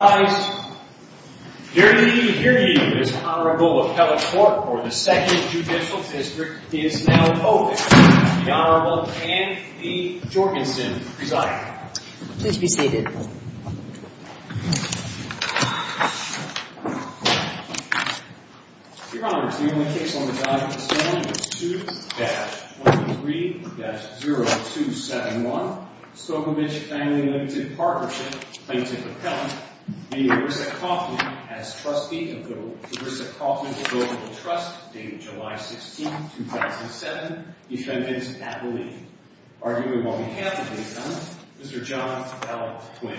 Dearly, dearly, this Honorable Appellate Court for the 2nd Judicial District is now open. The Honorable Anne Lee Jorgensen presiding. Please be seated. Your Honor, the only case on the docket standing is 2-23-0271 Stokovich Family Ltd. Partnership plaintiff appellant, v. Arissa Kaufman as trustee of the Arissa Kaufman Deliverable Trust dated July 16, 2007, defendant's appellee. Arguing on behalf of the defendant, Mr. John L. Twain.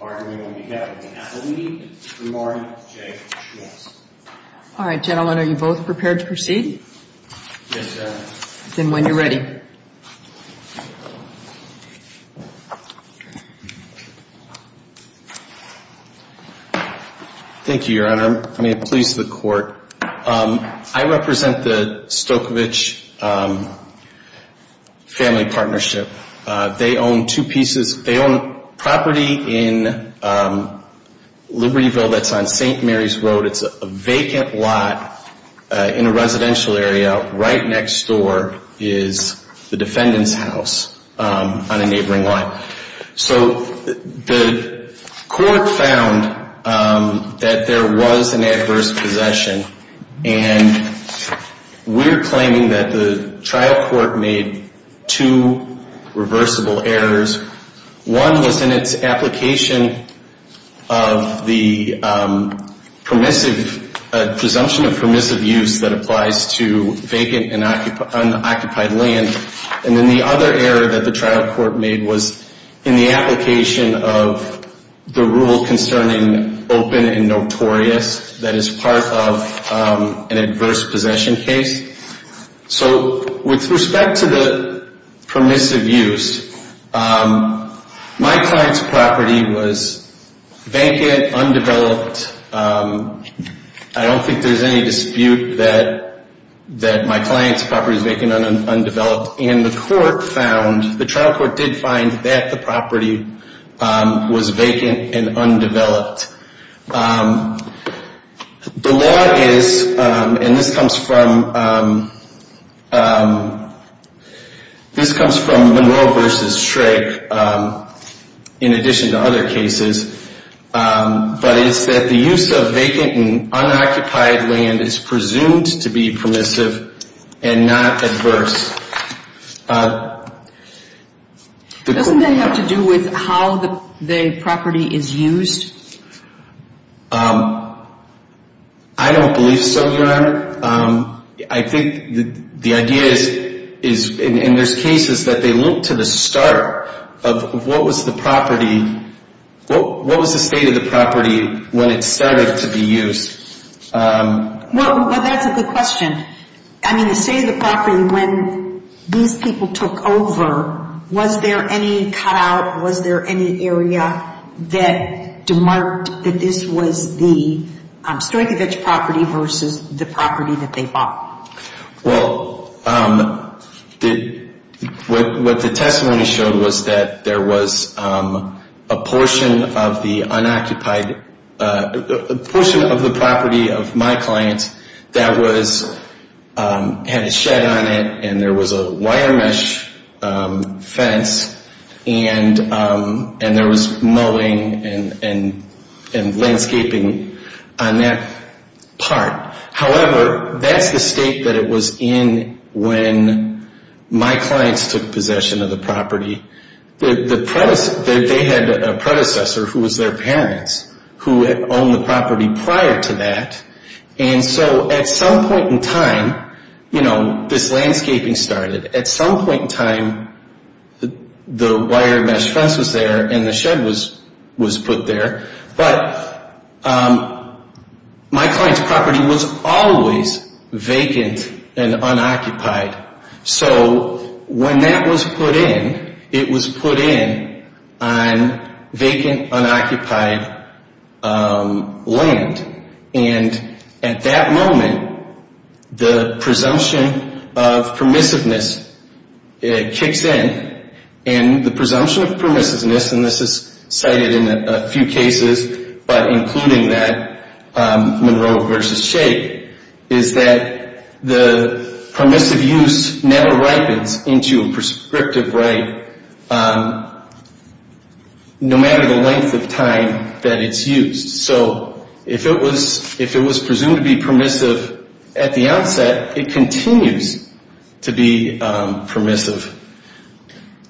Arguing on behalf of the appellee, Mr. Marty J. Schwartz. All right, gentlemen, are you both prepared to proceed? Yes, Your Honor. Then when you're ready. Thank you, Your Honor. May it please the Court. I represent the Stokovich Family Partnership. They own two pieces. They own property in Libertyville that's on St. Mary's Road. It's a vacant lot in a residential area right next door is the defendant's house on a neighboring lot. So the court found that there was an adverse possession. And we're claiming that the trial court made two reversible errors. One was in its application of the presumption of permissive use that applies to vacant and unoccupied land. And then the other error that the trial court made was in the application of the rule concerning open and notorious that is part of an adverse possession case. So with respect to the permissive use, my client's property was vacant, undeveloped. I don't think there's any dispute that my client's property is vacant and undeveloped. And the court found, the trial court did find that the property was vacant and undeveloped. The law is, and this comes from Monroe v. Shrake, in addition to other cases, but it's that the use of vacant and unoccupied land is presumed to be permissive and not adverse. Doesn't that have to do with how the property is used? I don't believe so, Your Honor. I think the idea is, and there's cases that they look to the start of what was the property, what was the state of the property when it started to be used. Well, that's a good question. I mean, the state of the property when these people took over, was there any cut out, was there any area that demarked that this was the Stoikovitch property versus the property that they bought? Well, what the testimony showed was that there was a portion of the unoccupied, a portion of the property of my client that had a shed on it and there was a wire mesh fence and there was mowing and landscaping on that part. However, that's the state that it was in when my clients took possession of the property. They had a predecessor who was their parents who owned the property prior to that and so at some point in time, you know, this landscaping started. At some point in time, the wire mesh fence was there and the shed was put there, but my client's property was always vacant and unoccupied. So when that was put in, it was put in on vacant, unoccupied land and at that moment, the presumption of permissiveness kicks in and the presumption of permissiveness, and this is cited in a few cases, but including that Monroe versus Shade, is that the permissive use never ripens into a prescriptive right no matter the length of time that it's used. So if it was presumed to be permissive at the outset, it continues to be permissive.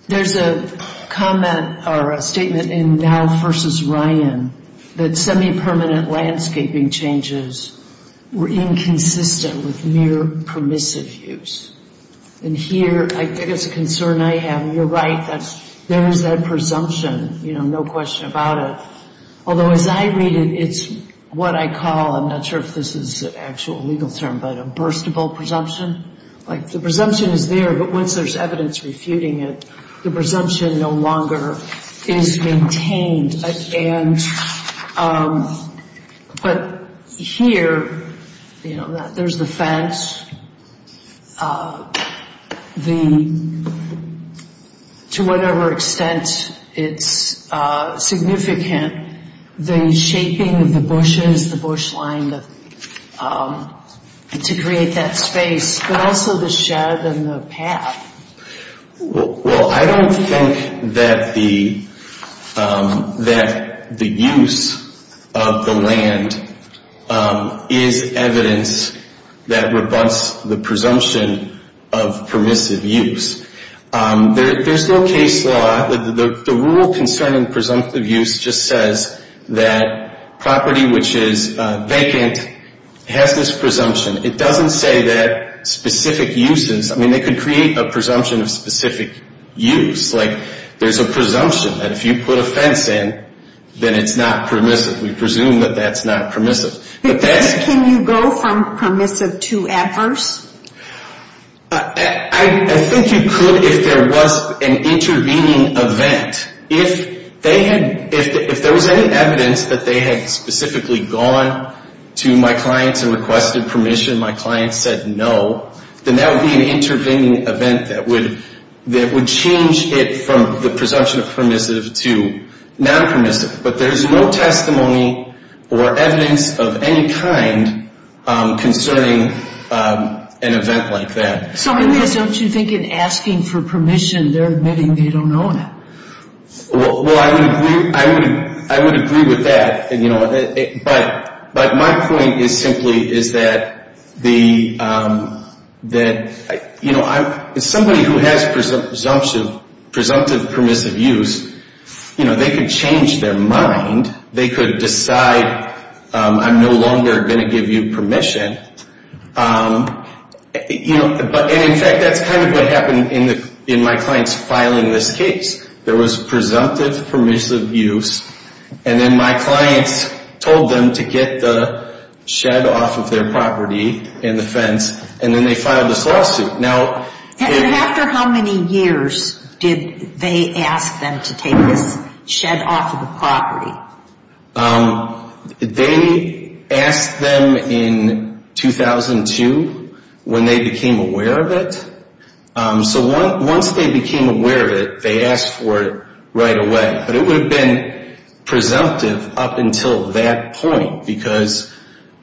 There's a comment or a statement in Dow versus Ryan that semi-permanent landscaping changes were inconsistent with mere permissive use. And here, I think it's a concern I have. You're right that there is that presumption, you know, no question about it. Although as I read it, it's what I call, I'm not sure if this is an actual legal term, but a burstable presumption. Like the presumption is there, but once there's evidence refuting it, the presumption no longer is maintained. But here, you know, there's the fence, the, to whatever extent it's significant, the shaping of the bushes, the bush line to create that space, but also the shed and the path. Well, I don't think that the use of the land is evidence that rebuts the presumption of permissive use. There's no case law, the rule concerning presumptive use just says that property which is vacant has this presumption. It doesn't say that specific uses, I mean, they could create a presumption of specific use. Like there's a presumption that if you put a fence in, then it's not permissive. We presume that that's not permissive. Can you go from permissive to adverse? I think you could if there was an intervening event. If there was any evidence that they had specifically gone to my clients and requested permission, my clients said no, then that would be an intervening event that would change it from the presumption of permissive to non-permissive. But there's no testimony or evidence of any kind concerning an event like that. So, Elias, don't you think in asking for permission, they're admitting they don't know that? Well, I would agree with that, but my point is simply is that somebody who has presumptive permissive use, they could change their mind, they could decide I'm no longer going to give you permission. And, in fact, that's kind of what happened in my clients filing this case. There was presumptive permissive use, and then my clients told them to get the shed off of their property and the fence, and then they filed this lawsuit. And after how many years did they ask them to take this shed off of the property? They asked them in 2002 when they became aware of it. So once they became aware of it, they asked for it right away. But it would have been presumptive up until that point because...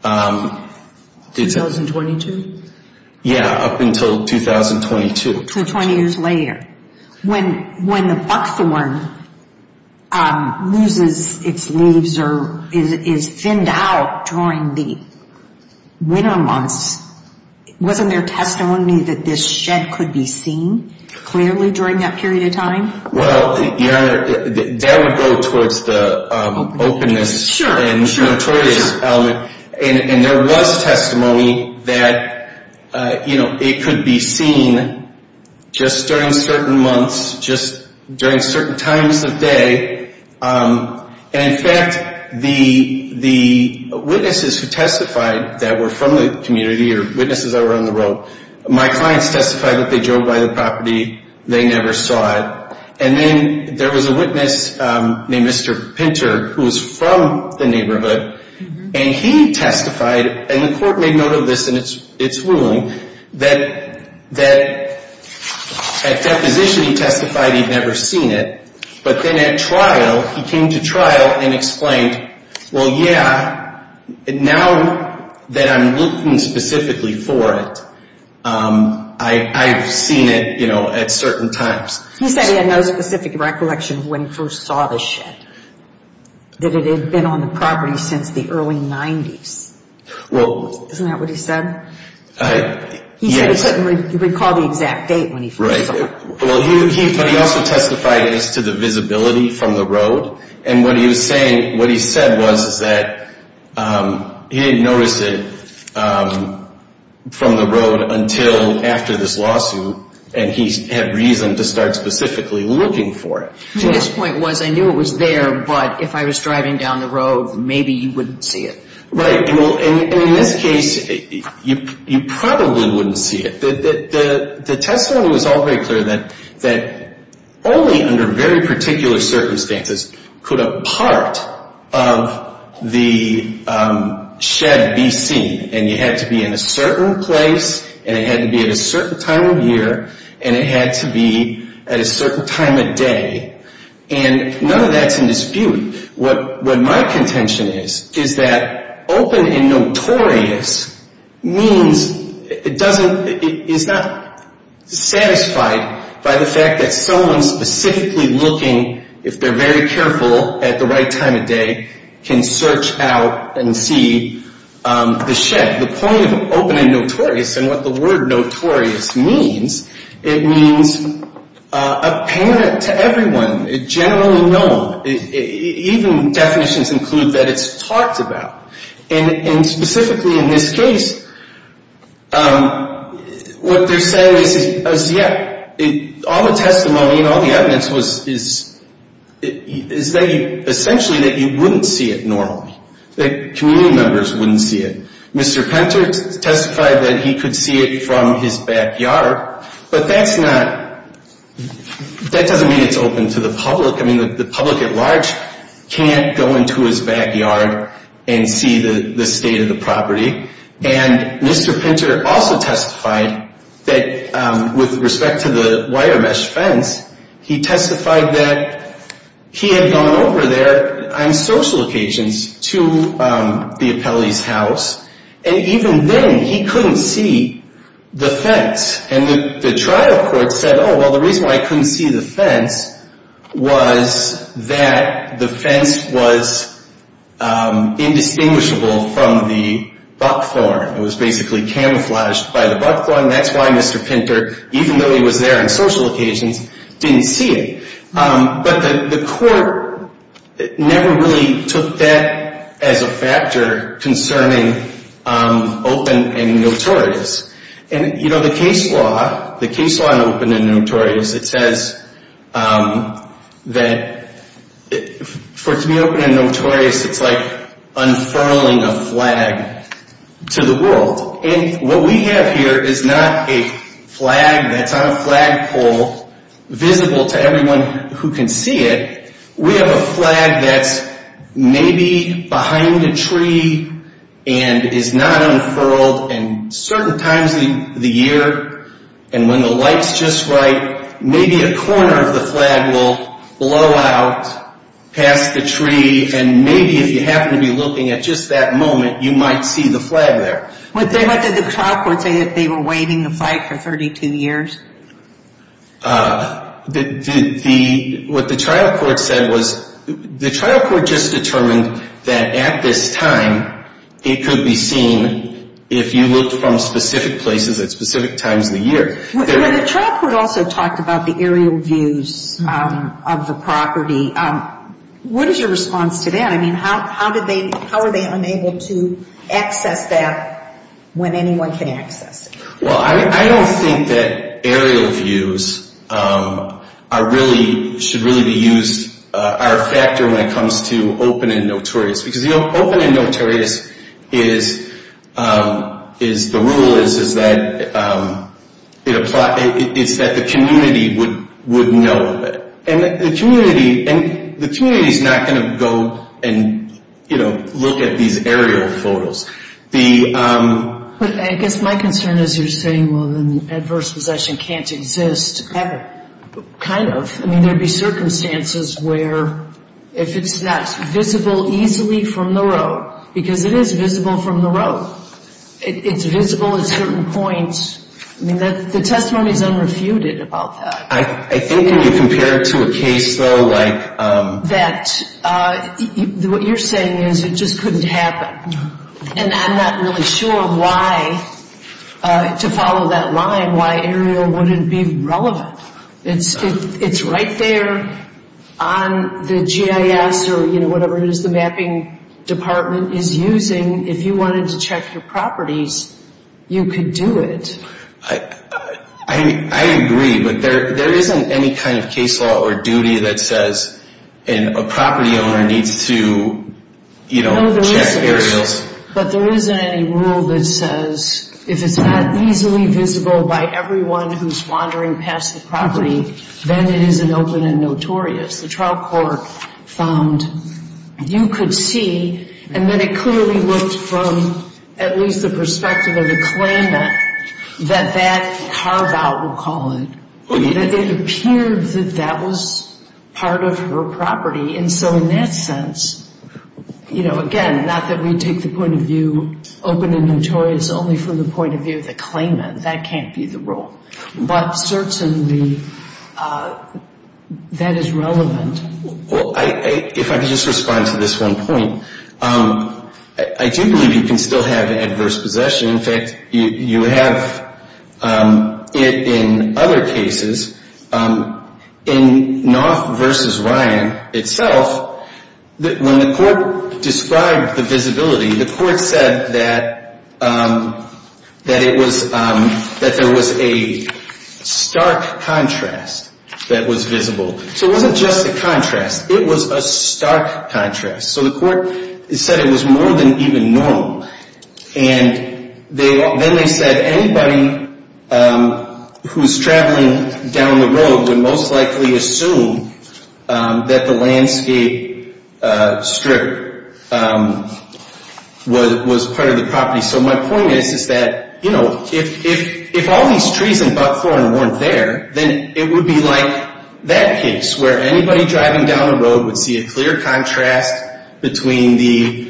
2022? Yeah, up until 2022. So 20 years later. When the buckthorn loses its leaves or is thinned out during the winter months, wasn't there testimony that this shed could be seen clearly during that period of time? Well, Your Honor, that would go towards the openness and notorious element. And there was testimony that it could be seen just during certain months, just during certain times of day. And, in fact, the witnesses who testified that were from the community or witnesses that were on the road, my clients testified that they drove by the property, they never saw it. And then there was a witness named Mr. Pinter who was from the neighborhood, and he testified, and the court made note of this in its ruling, that at deposition he testified he'd never seen it. But then at trial, he came to trial and explained, well, yeah, now that I'm looking specifically for it, I've seen it, you know, at certain times. He said he had no specific recollection of when he first saw the shed, that it had been on the property since the early 90s. Isn't that what he said? Yes. He said he couldn't recall the exact date when he first saw it. But he also testified as to the visibility from the road, and what he said was that he didn't notice it from the road until after this lawsuit, and he had reason to start specifically looking for it. His point was, I knew it was there, but if I was driving down the road, maybe you wouldn't see it. Right. And in this case, you probably wouldn't see it. The testimony was all very clear that only under very particular circumstances could a part of the shed be seen. And you had to be in a certain place, and it had to be at a certain time of year, and it had to be at a certain time of day, and none of that's in dispute. What my contention is, is that open and notorious means it doesn't, it's not satisfied by the fact that someone specifically looking, if they're very careful at the right time of day, can search out and see the shed. The point of open and notorious, and what the word notorious means, it means apparent to everyone, generally known. Even definitions include that it's talked about. And specifically in this case, what they're saying is, yeah, all the testimony and all the evidence is essentially that you wouldn't see it normally, that community members wouldn't see it. Mr. Pinter testified that he could see it from his backyard, but that's not, that doesn't mean it's open to the public. I mean, the public at large can't go into his backyard and see the state of the property. And Mr. Pinter also testified that with respect to the wire mesh fence, he testified that he had gone over there on social occasions to the Appellee's house, and even then he couldn't see the fence. And the trial court said, oh, well, the reason why I couldn't see the fence was that the fence was indistinguishable from the buckthorn. It was basically camouflaged by the buckthorn. That's why Mr. Pinter, even though he was there on social occasions, didn't see it. But the court never really took that as a factor concerning open and notorious. And, you know, the case law on open and notorious, it says that for it to be open and notorious, it's like unfurling a flag to the world. And what we have here is not a flag that's on a flagpole visible to everyone who can see it. We have a flag that's maybe behind a tree and is not unfurled. And certain times of the year, and when the light's just right, maybe a corner of the flag will blow out past the tree. And maybe if you happen to be looking at just that moment, you might see the flag there. What did the trial court say that they were waiving the flag for 32 years? What the trial court said was the trial court just determined that at this time, it could be seen if you looked from specific places at specific times of the year. The trial court also talked about the aerial views of the property. What is your response to that? I mean, how are they unable to access that when anyone can access it? Well, I don't think that aerial views should really be used as a factor when it comes to open and notorious. Because open and notorious, the rule is that the community would know of it. And the community is not going to go and, you know, look at these aerial photos. But I guess my concern is you're saying, well, then adverse possession can't exist ever. Kind of. I mean, there would be circumstances where if it's not visible easily from the road, because it is visible from the road, it's visible at certain points. I mean, the testimony is unrefuted about that. I think when you compare it to a case, though, like... That what you're saying is it just couldn't happen. And I'm not really sure why, to follow that line, why aerial wouldn't be relevant. It's right there on the GIS or, you know, whatever it is the mapping department is using. If you wanted to check your properties, you could do it. I agree. But there isn't any kind of case law or duty that says a property owner needs to, you know, check aerials. No, there isn't. But there isn't any rule that says if it's not easily visible by everyone who's wandering past the property, then it isn't open and notorious. The trial court found you could see. And then it clearly looked from at least the perspective of the claimant that that carve-out, we'll call it, that it appeared that that was part of her property. And so in that sense, you know, again, not that we take the point of view open and notorious only from the point of view of the claimant. That can't be the rule. But certainly that is relevant. Well, if I could just respond to this one point. I do believe you can still have adverse possession. In fact, you have it in other cases. In Knopf v. Ryan itself, when the court described the visibility, the court said that it was, that there was a stark contrast that was visible. So it wasn't just a contrast. It was a stark contrast. So the court said it was more than even normal. And then they said anybody who's traveling down the road would most likely assume that the landscape strip was part of the property. So my point is, is that, you know, if all these trees and buckthorn weren't there, then it would be like that case where anybody driving down the road would see a clear contrast between the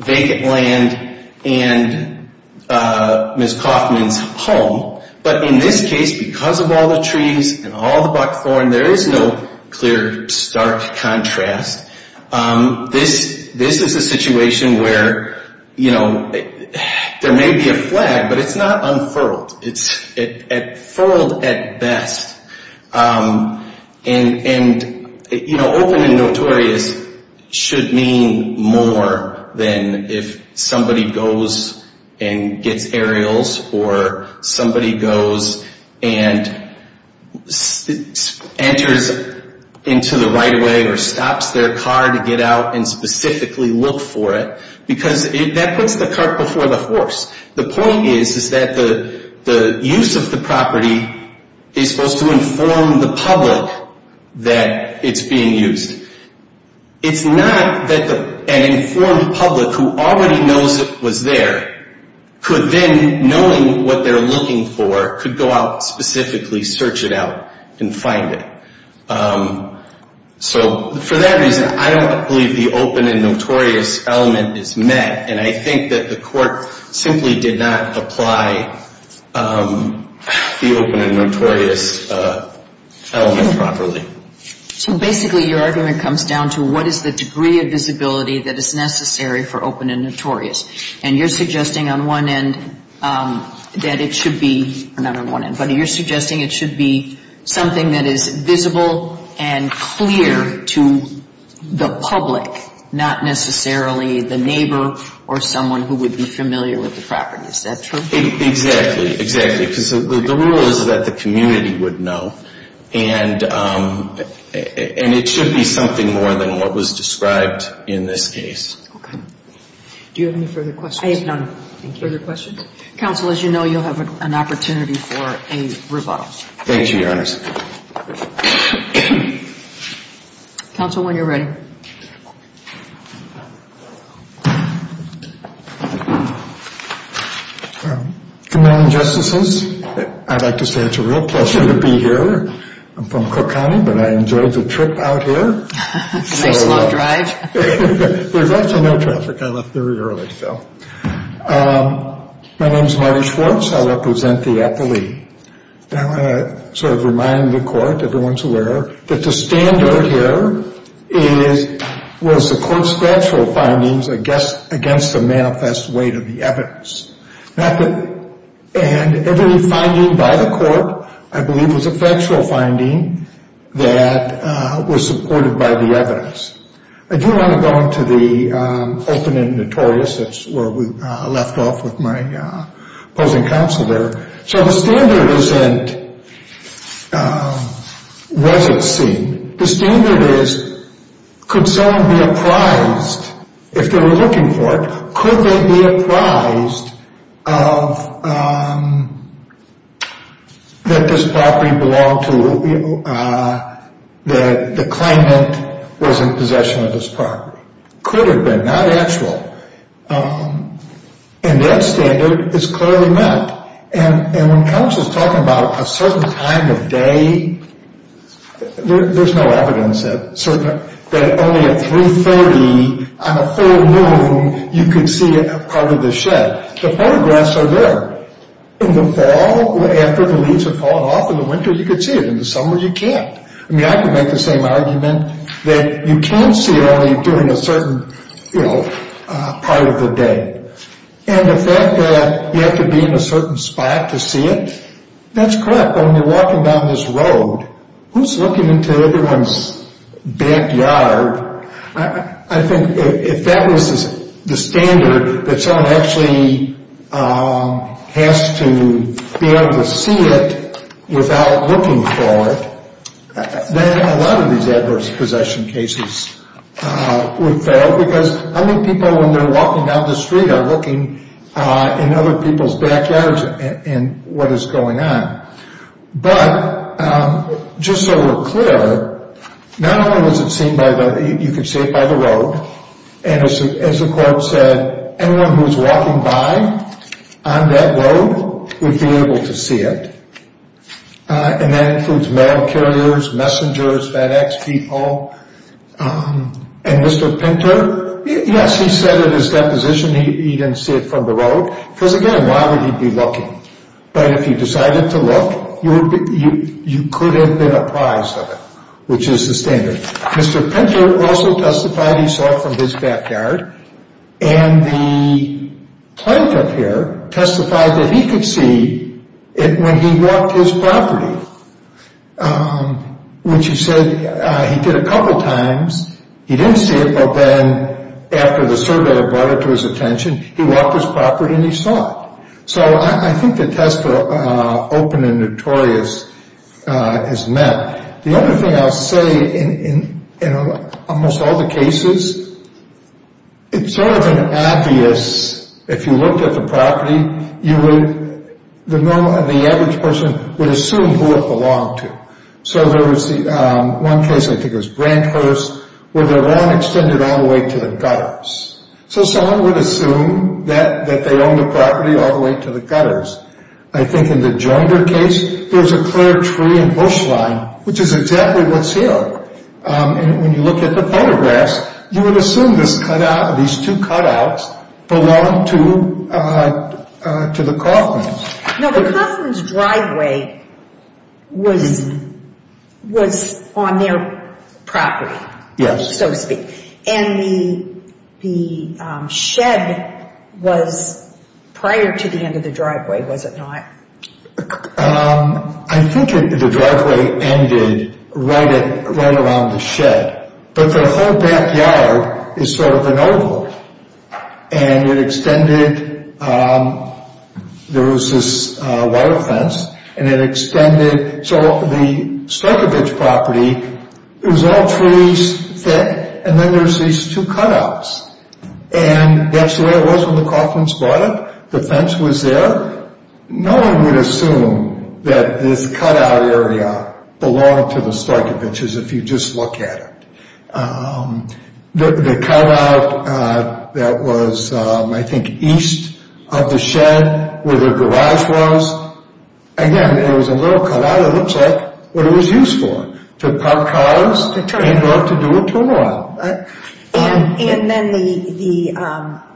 vacant land and Ms. Kaufman's home. But in this case, because of all the trees and all the buckthorn, there is no clear, stark contrast. This is a situation where, you know, there may be a flag, but it's not unfurled. It's furled at best. And, you know, open and notorious should mean more than if somebody goes and gets aerials or somebody goes and enters into the right-of-way or stops their car to get out and specifically look for it, because that puts the cart before the horse. The point is, is that the use of the property is supposed to inform the public that it's being used. It's not that an informed public who already knows it was there could then, knowing what they're looking for, could go out specifically, search it out, and find it. So for that reason, I don't believe the open and notorious element is met, and I think that the court simply did not apply the open and notorious element properly. So basically, your argument comes down to what is the degree of visibility that is necessary for open and notorious. And you're suggesting on one end that it should be, not on one end, but you're suggesting it should be something that is visible and clear to the public, not necessarily the neighbor or someone who would be familiar with the property. Is that true? Exactly, exactly, because the rule is that the community would know. And it should be something more than what was described in this case. Okay. Do you have any further questions? I have none. Thank you. Further questions? Counsel, as you know, you'll have an opportunity for a rebuttal. Thank you, Your Honor. Counsel, when you're ready. Good morning, Justices. I'd like to say it's a real pleasure to be here. I'm from Cook County, but I enjoyed the trip out here. Nice long drive. There's actually no traffic. I left very early, so. My name is Marty Schwartz. I represent the appellee. I want to sort of remind the court, everyone's aware, that the standard here was the court's factual findings against the manifest weight of the evidence. And every finding by the court, I believe, was a factual finding that was supported by the evidence. I do want to go into the open and notorious. That's where we left off with my opposing counsel there. So the standard isn't, was it seen? The standard is, could someone be apprised, if they were looking for it, could they be apprised that this property belonged to, that the claimant was in possession of this property? Could have been, not actual. And that standard is clearly not. And when counsel's talking about a certain time of day, there's no evidence that only at 3.30 on a full moon, you could see a part of the shed. The photographs are there. In the fall, after the leaves have fallen off in the winter, you could see it. In the summer, you can't. I mean, I could make the same argument that you can see it only during a certain, you know, part of the day. And the fact that you have to be in a certain spot to see it, that's correct. But when you're walking down this road, who's looking into everyone's backyard? I think if that was the standard, that someone actually has to be able to see it without looking for it, then a lot of these adverse possession cases would fail, because how many people, when they're walking down the street, are looking in other people's backyards and what is going on? But just so we're clear, not only was it seen by the, you could see it by the road, and as the quote said, anyone who was walking by on that road would be able to see it. And that includes mail carriers, messengers, FedEx people. And Mr. Pinter, yes, he said in his deposition he didn't see it from the road, because again, why would he be looking? But if he decided to look, you could have been apprised of it, which is the standard. Mr. Pinter also testified he saw it from his backyard. And the plaintiff here testified that he could see it when he walked his property, which he said he did a couple times. He didn't see it, but then after the surveyor brought it to his attention, he walked his property and he saw it. So I think the test for open and notorious is met. The other thing I'll say in almost all the cases, it's sort of an obvious, if you looked at the property, the average person would assume who it belonged to. So there was one case, I think it was Branchhurst, where their lawn extended all the way to the gutters. So someone would assume that they owned the property all the way to the gutters. I think in the Joinder case, there was a clear tree and bush line, which is exactly what's here. And when you look at the photographs, you would assume these two cutouts belonged to the Coffmans. Now, the Coffmans' driveway was on their property, so to speak. And the shed was prior to the end of the driveway, was it not? I think the driveway ended right around the shed. But the whole backyard is sort of an oval. And it extended, there was this wire fence, and it extended. So the Stokkevich property, it was all trees, thick, and then there's these two cutouts. And that's the way it was when the Coffmans bought it. The fence was there. No one would assume that this cutout area belonged to the Stokkevichs, if you just look at it. The cutout that was, I think, east of the shed, where the garage was, again, it was a little cutout. It looks like what it was used for, to park cars and go up to do a turn around. And then the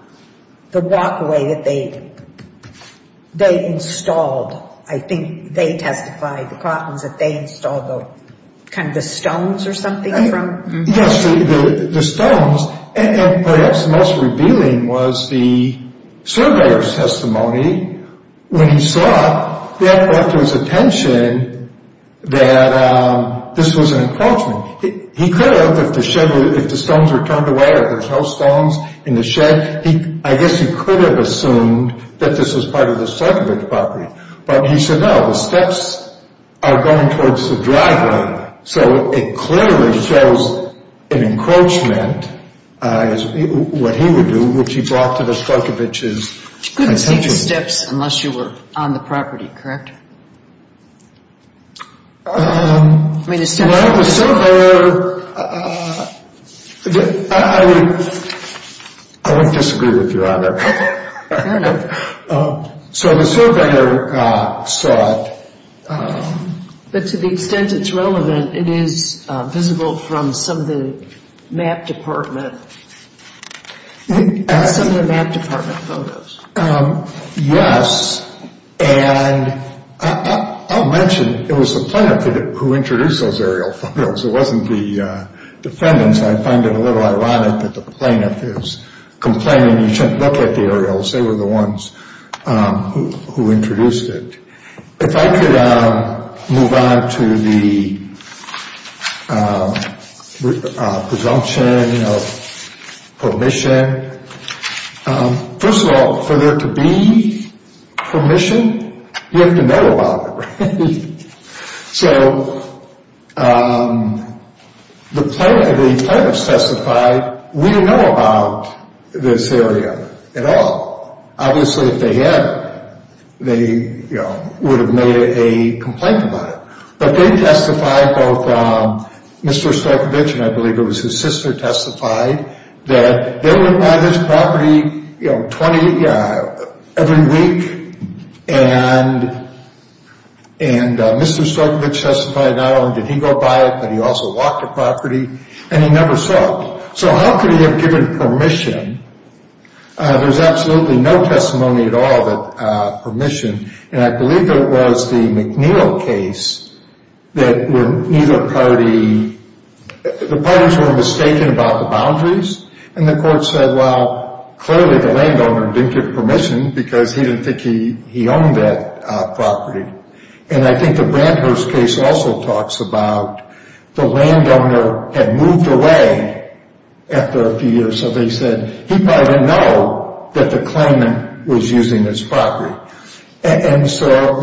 walkway that they installed, I think they testified, the Coffmans, that they installed kind of the stones or something from? Yes, the stones. And perhaps the most revealing was the surveyor's testimony. When he saw it, that brought to his attention that this was an encroachment. He could have, if the stones were turned away, or there's no stones in the shed, I guess he could have assumed that this was part of the Stokkevich property. But he said, no, the steps are going towards the driveway. So it clearly shows an encroachment, what he would do, which he brought to the Stokkevichs' attention. You couldn't see the steps unless you were on the property, correct? Well, the surveyor, I would disagree with you on that. Fair enough. So the surveyor saw it. But to the extent it's relevant, it is visible from some of the map department photos. Yes, and I'll mention it was the plaintiff who introduced those aerial photos. It wasn't the defendants. I find it a little ironic that the plaintiff is complaining you shouldn't look at the aerials. They were the ones who introduced it. If I could move on to the presumption of permission. First of all, for there to be permission, you have to know about it, right? So the plaintiffs testified, we didn't know about this area at all. Obviously, if they had, they would have made a complaint about it. But they testified, both Mr. Stokkevich and I believe it was his sister testified, that they went by this property every week. And Mr. Stokkevich testified not only did he go by it, but he also walked the property. And he never saw it. So how could he have given permission? There's absolutely no testimony at all that permission. And I believe there was the McNeil case that neither party, the parties were mistaken about the boundaries. And the court said, well, clearly the landowner didn't give permission because he didn't think he owned that property. And I think the Brandhurst case also talks about the landowner had moved away after a few years. So they said he probably didn't know that the claimant was using this property. And so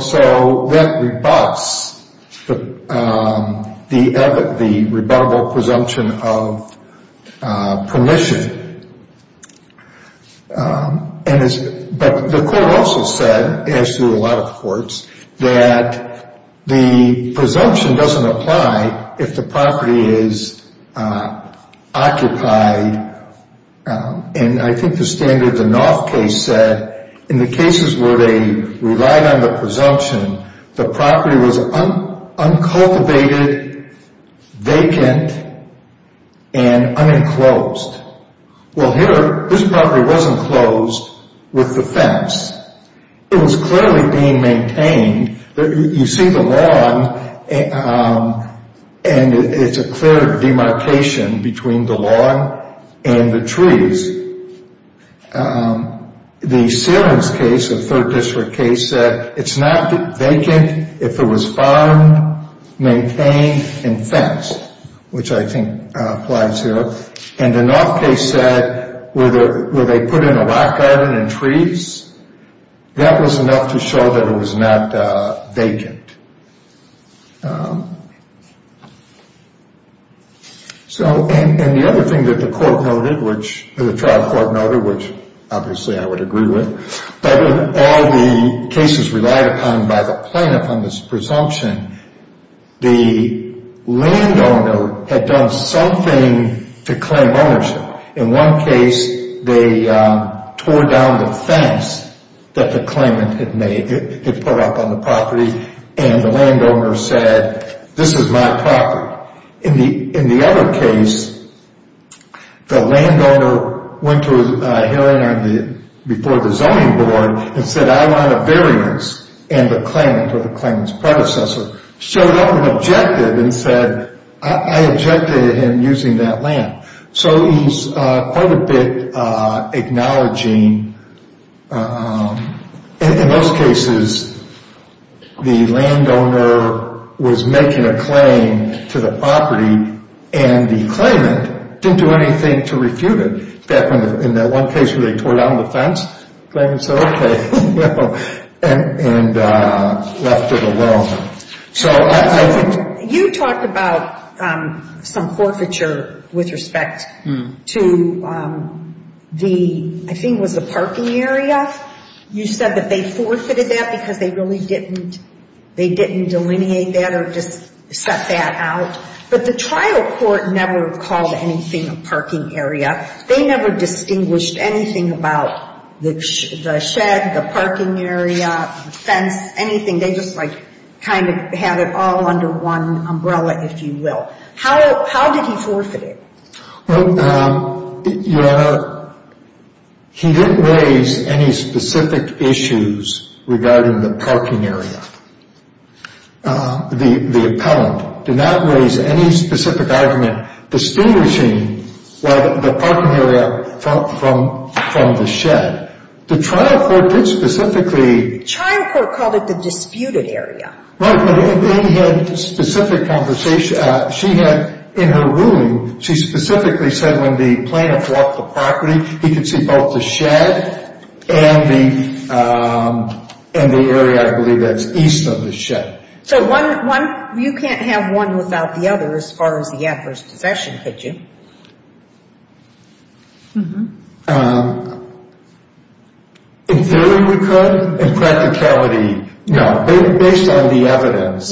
that rebuffs the rebuttable presumption of permission. But the court also said, as do a lot of courts, that the presumption doesn't apply if the property is occupied. And I think the standard, the Knopf case said, in the cases where they relied on the presumption, the property was uncultivated, vacant, and unenclosed. Well, here, this property was enclosed with the fence. It was clearly being maintained. You see the lawn, and it's a clear demarcation between the lawn and the trees. The Ceilings case, a third district case, said it's not vacant if it was farmed, maintained, and fenced, which I think applies here. And the Knopf case said, where they put in a rock garden and trees, that was enough to show that it was not vacant. And the other thing that the trial court noted, which obviously I would agree with, but in all the cases relied upon by the plaintiff on this presumption, the landowner had done something to claim ownership. In one case, they tore down the fence that the claimant had made. It put up on the property, and the landowner said, this is my property. In the other case, the landowner went to a hearing before the zoning board and said, I want a variance, and the claimant, or the claimant's predecessor, showed up and objected and said, I objected to him using that land. So he's quite a bit acknowledging, in those cases, the landowner was making a claim to the property, and the claimant didn't do anything to refute it. In that one case where they tore down the fence, the claimant said, okay, and left it alone. You talked about some forfeiture with respect to the, I think it was the parking area. You said that they forfeited that because they really didn't delineate that or just set that out. But the trial court never called anything a parking area. They never distinguished anything about the shed, the parking area, the fence, anything. They just, like, kind of had it all under one umbrella, if you will. How did he forfeit it? Well, Your Honor, he didn't raise any specific issues regarding the parking area. The appellant did not raise any specific argument distinguishing the parking area from the shed. The trial court did specifically The trial court called it the disputed area. Right, but he had specific conversation. She had, in her ruling, she specifically said when the plaintiff walked the property, he could see both the shed and the area, I believe, that's east of the shed. So one, you can't have one without the other as far as the adverse possession, could you? In theory, we could. In practicality, no. Based on the evidence,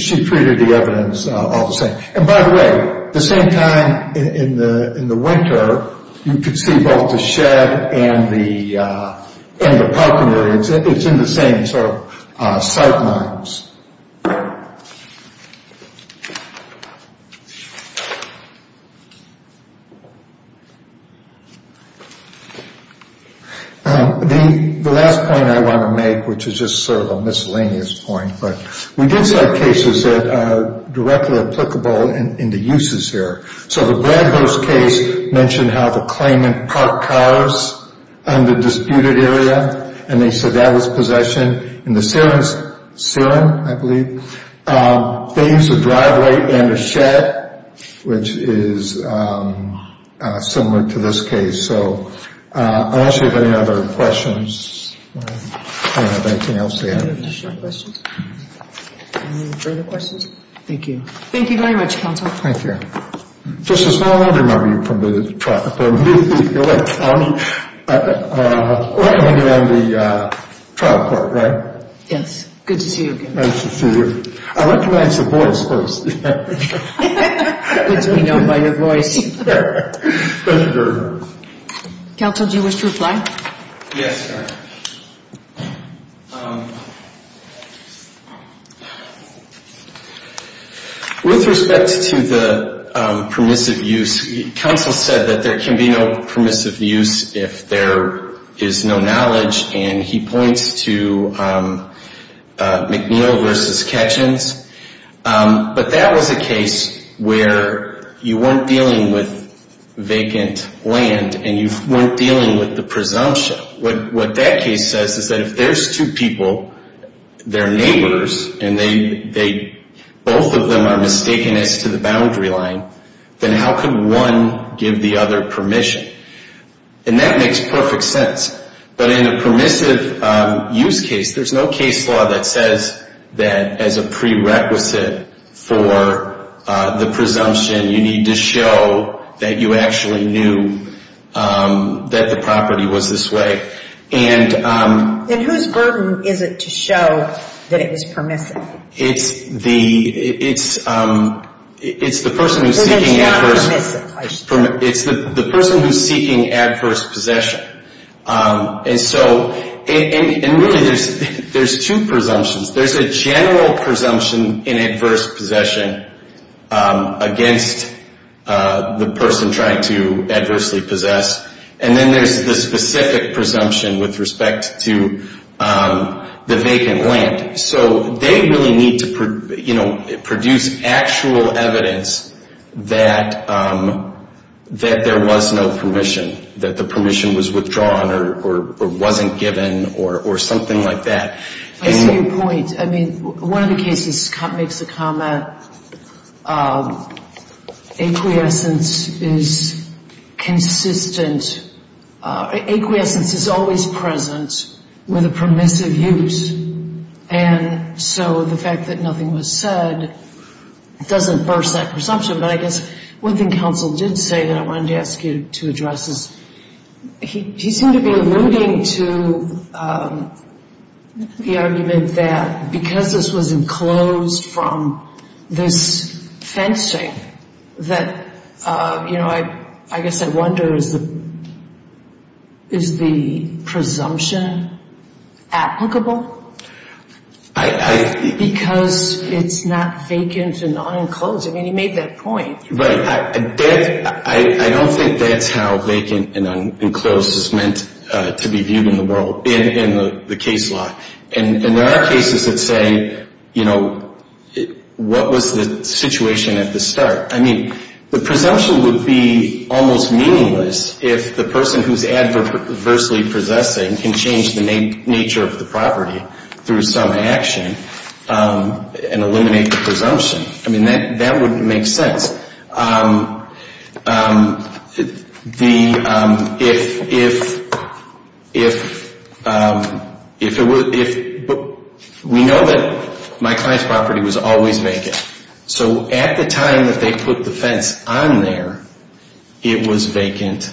she treated the evidence all the same. And by the way, the same time in the winter, you could see both the shed and the parking area. It's in the same sort of sight lines. The last point I want to make, which is just sort of a miscellaneous point, but we did cite cases that are directly applicable in the uses here. So the Bradhurst case mentioned how the claimant parked cars on the disputed area and they said that was possession. In the Sierens case, the claimant parked cars on the disputed area. They used a driveway and a shed, which is similar to this case. So unless you have any other questions, I don't have anything else to add. Any additional questions? Thank you. Thank you very much, counsel. Thank you. Justice, now I want to remember you from the trial court, right? Yes, good to see you again. Nice to see you. I'd like to ask your voice first. Good to be known by your voice. Thank you very much. Counsel, do you wish to reply? Yes, ma'am. With respect to the permissive use, counsel said that there can be no permissive use if there is no knowledge, and he points to McNeil v. Ketchins. But that was a case where you weren't dealing with vacant land and you weren't dealing with the presumption. What that case says is that if there's two people, they're neighbors, and both of them are mistaken as to the boundary line, then how can one give the other permission? And that makes perfect sense. But in a permissive use case, there's no case law that says that as a prerequisite for the presumption, you need to show that you actually knew that the property was this way. Then whose burden is it to show that it was permissive? It's the person who's seeking adverse possession. And really, there's two presumptions. There's a general presumption in adverse possession against the person trying to adversely possess, and then there's the specific presumption with respect to the vacant land. So they really need to produce actual evidence that there was no permission, that the permission was withdrawn or wasn't given or something like that. I see your point. I mean, one of the cases makes the comment acquiescence is consistent. Acquiescence is always present with a permissive use. And so the fact that nothing was said doesn't burst that presumption. But I guess one thing counsel did say that I wanted to ask you to address is he seemed to be alluding to the argument that because this was enclosed from this fencing, that, you know, I guess I wonder, is the presumption applicable? Because it's not vacant and not enclosed. I mean, he made that point. Right. I don't think that's how vacant and enclosed is meant to be viewed in the world, in the case law. And there are cases that say, you know, what was the situation at the start? I mean, the presumption would be almost meaningless if the person who's adversely possessing can change the nature of the property through some action and eliminate the presumption. I mean, that wouldn't make sense. The – if – we know that my client's property was always vacant. So at the time that they put the fence on there, it was vacant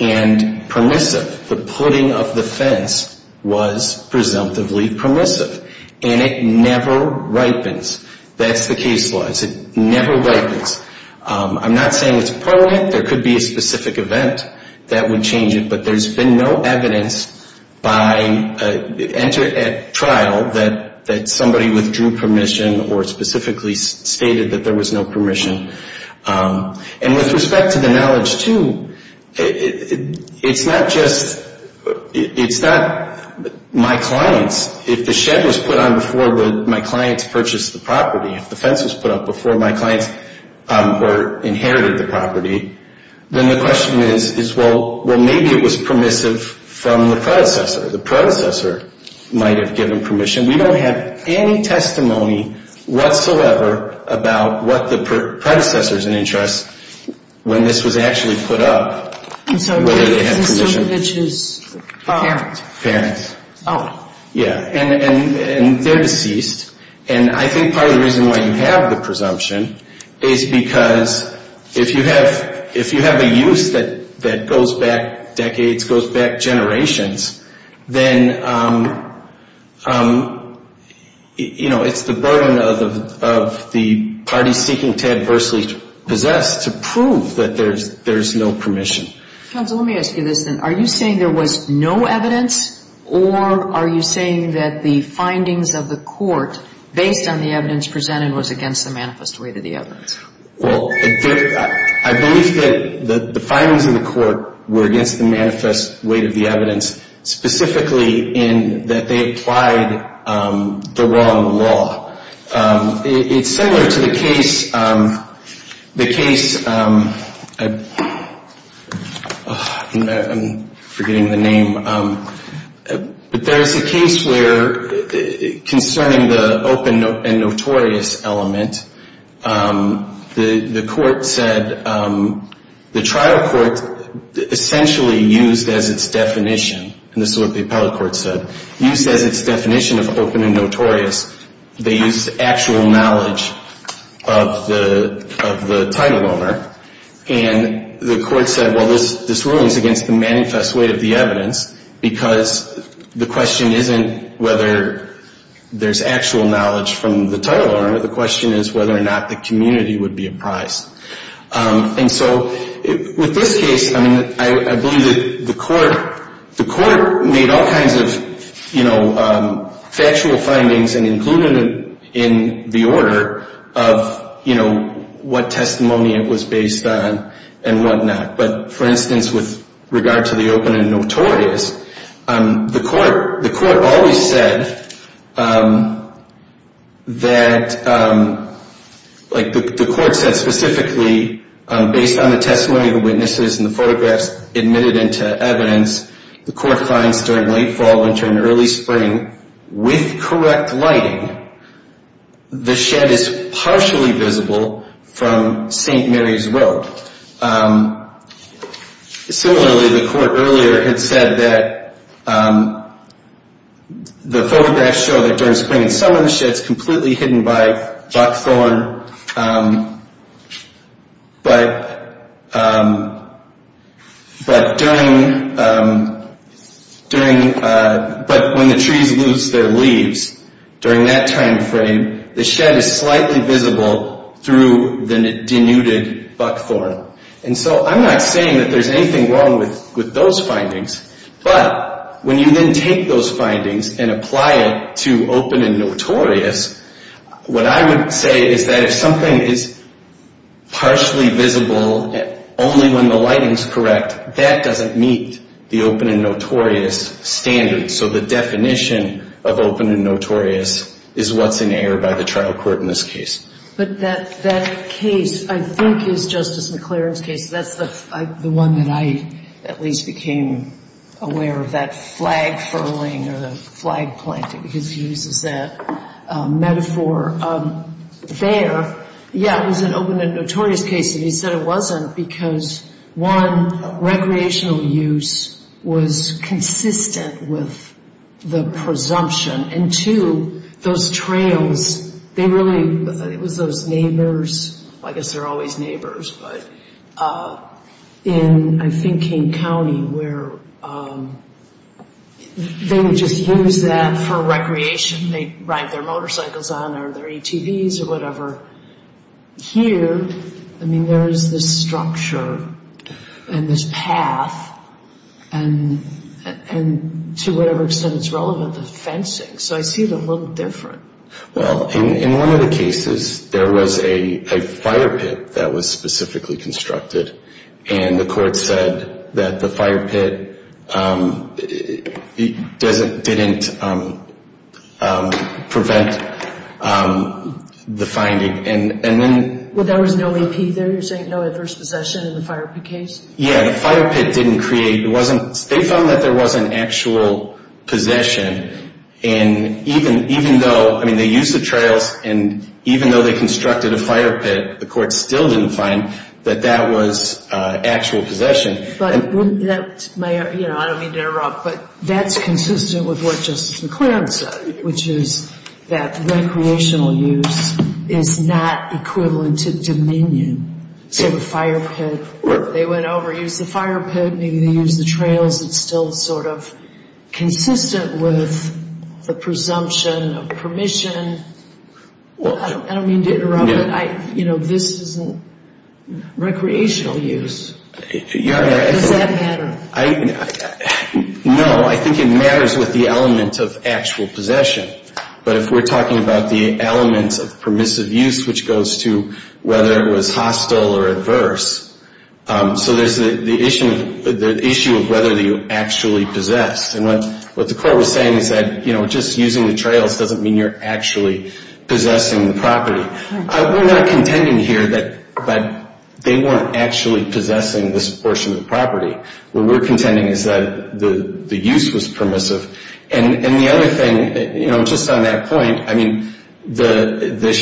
and permissive. The putting of the fence was presumptively permissive. And it never ripens. That's the case law. It never ripens. I'm not saying it's permanent. There could be a specific event that would change it. But there's been no evidence by – entered at trial that somebody withdrew permission or specifically stated that there was no permission. And with respect to the knowledge, too, it's not just – it's not my clients. If the shed was put on before my clients purchased the property, if the fence was put up before my clients inherited the property, then the question is, well, maybe it was permissive from the predecessor. The predecessor might have given permission. We don't have any testimony whatsoever about what the predecessor's interests when this was actually put up, whether they had permission. Parents. Parents. Oh. Yeah. And they're deceased. And I think part of the reason why you have the presumption is because if you have a use that goes back decades, goes back generations, then, you know, it's the burden of the party seeking to adversely possess to prove that there's no permission. Counsel, let me ask you this then. Are you saying there was no evidence, or are you saying that the findings of the court based on the evidence presented was against the manifest weight of the evidence? Well, I believe that the findings in the court were against the manifest weight of the evidence, specifically in that they applied the wrong law. It's similar to the case, the case, I'm forgetting the name, but there is a case where concerning the open and notorious element, the court said, the trial court essentially used as its definition, and this is what the appellate court said, used as its definition of open and notorious, they used actual knowledge of the title owner, and the court said, well, this rule is against the manifest weight of the evidence because the question isn't whether there's actual knowledge from the title owner. The question is whether or not the community would be apprised. And so with this case, I believe that the court made all kinds of factual findings and included them in the order of what testimony it was based on and whatnot. But, for instance, with regard to the open and notorious, the court always said that, like the court said specifically, based on the testimony of the witnesses and the photographs admitted into evidence, the court finds during late fall, winter, and early spring, with correct lighting, the shed is partially visible from St. Mary's Road. Similarly, the court earlier had said that the photographs show that during spring and summer, the shed's completely hidden by buckthorn, but when the trees lose their leaves during that time frame, the shed is slightly visible through the denuded buckthorn. And so I'm not saying that there's anything wrong with those findings, but when you then take those findings and apply it to open and notorious, what I would say is that if something is partially visible only when the lighting's correct, that doesn't meet the open and notorious standard. So the definition of open and notorious is what's in error by the trial court in this case. But that case, I think, is Justice McClaren's case. That's the one that I at least became aware of, that flag-furling or the flag-planting, because he uses that metaphor there. Yeah, it was an open and notorious case, and he said it wasn't because, one, recreational use was consistent with the presumption, and two, those trails, they really, it was those neighbors, well, I guess they're always neighbors, but in, I think, King County, where they would just use that for recreation. They'd ride their motorcycles on or their ATVs or whatever. Here, I mean, there is this structure and this path, and to whatever extent it's relevant, the fencing. So I see it a little different. Well, in one of the cases, there was a fire pit that was specifically constructed, and the court said that the fire pit didn't prevent the finding. Well, there was no AP there? You're saying no adverse possession in the fire pit case? Yeah, the fire pit didn't create, it wasn't, they found that there wasn't actual possession, and even though, I mean, they used the trails, and even though they constructed a fire pit, the court still didn't find that that was actual possession. But wouldn't that, you know, I don't mean to interrupt, but that's consistent with what Justice McClaren said, which is that recreational use is not equivalent to dominion. So the fire pit, they went over, used the fire pit, maybe they used the trails, it's still sort of consistent with the presumption of permission. Well, I don't mean to interrupt, but, you know, this isn't recreational use. Does that matter? No, I think it matters with the element of actual possession. But if we're talking about the element of permissive use, which goes to whether it was hostile or adverse, so there's the issue of whether you actually possessed. And what the court was saying is that, you know, just using the trails doesn't mean you're actually possessing the property. We're not contending here that they weren't actually possessing this portion of the property. What we're contending is that the use was permissive. And the other thing, you know, just on that point, I mean, the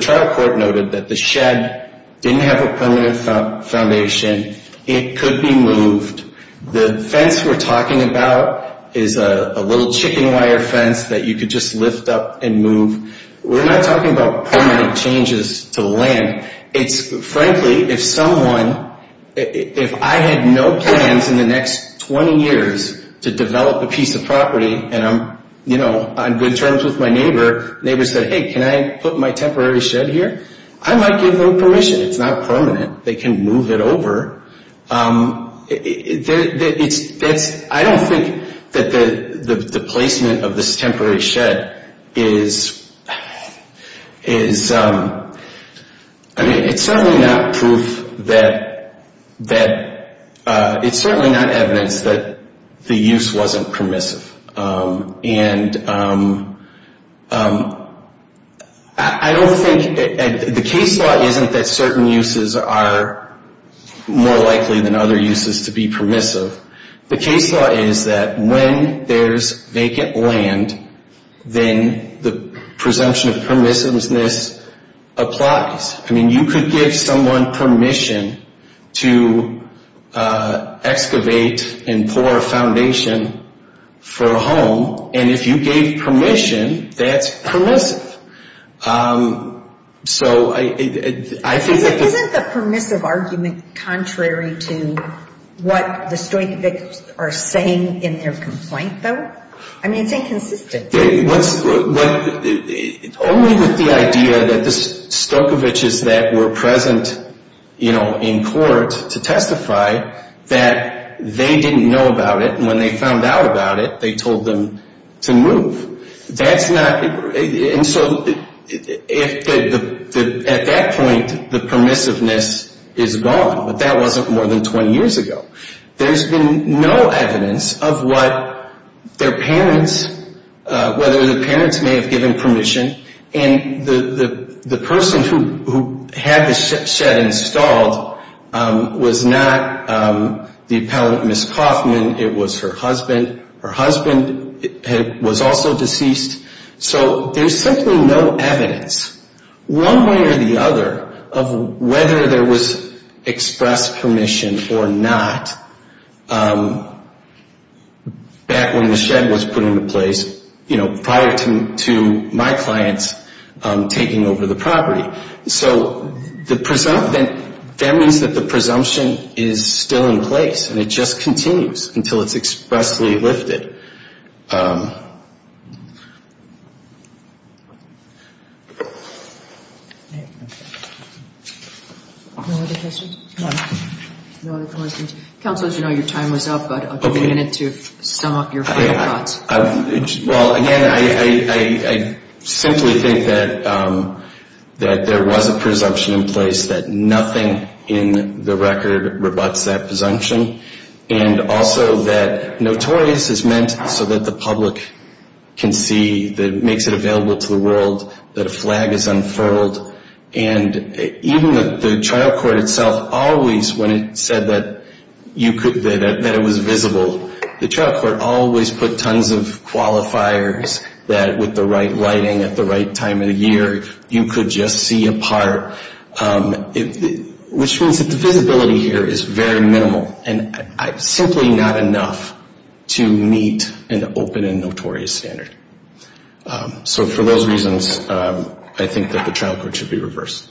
trial court noted that the shed didn't have a permanent foundation. It could be moved. The fence we're talking about is a little chicken wire fence that you could just lift up and move. We're not talking about permanent changes to the land. It's, frankly, if someone, if I had no plans in the next 20 years to develop a piece of property, and I'm, you know, on good terms with my neighbor, neighbor said, hey, can I put my temporary shed here? I might give them permission. It's not permanent. They can move it over. I don't think that the placement of this temporary shed is, I mean, it's certainly not proof that, it's certainly not evidence that the use wasn't permissive. And I don't think, the case law isn't that certain uses are more likely than other uses to be permissive. The case law is that when there's vacant land, then the presumption of permissiveness applies. I mean, you could give someone permission to excavate and pour a foundation for a home, and if you gave permission, that's permissive. So I think that the- Isn't the permissive argument contrary to what the Stojkovic are saying in their complaint, though? I mean, it's inconsistent. Only with the idea that the Stojkovic's that were present, you know, in court to testify, that they didn't know about it, and when they found out about it, they told them to move. That's not, and so at that point, the permissiveness is gone, but that wasn't more than 20 years ago. There's been no evidence of what their parents, whether the parents may have given permission, and the person who had the shed installed was not the appellant, Miss Kaufman. It was her husband. Her husband was also deceased, so there's simply no evidence, one way or the other, of whether there was expressed permission or not back when the shed was put into place, you know, prior to my clients taking over the property. So that means that the presumption is still in place, and it just continues until it's expressly lifted. Any other questions? No other questions. Counsel, as you know, your time was up, but I'll give you a minute to sum up your final thoughts. Well, again, I simply think that there was a presumption in place, that nothing in the record rebuts that presumption, and also that notorious is meant so that the public can see that it makes it available to the world, that a flag is unfurled. And even the trial court itself always, when it said that it was visible, the trial court always put tons of qualifiers that, with the right lighting at the right time of the year, you could just see a part, which means that the visibility here is very minimal and simply not enough to meet an open and notorious standard. So for those reasons, I think that the trial court should be reversed.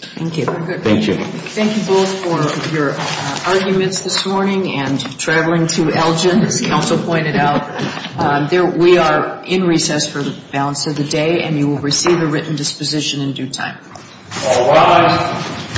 Thank you. Thank you. Thank you both for your arguments this morning and traveling to Elgin. As Counsel pointed out, we are in recess for the balance of the day, and you will receive a written disposition in due time. All rise.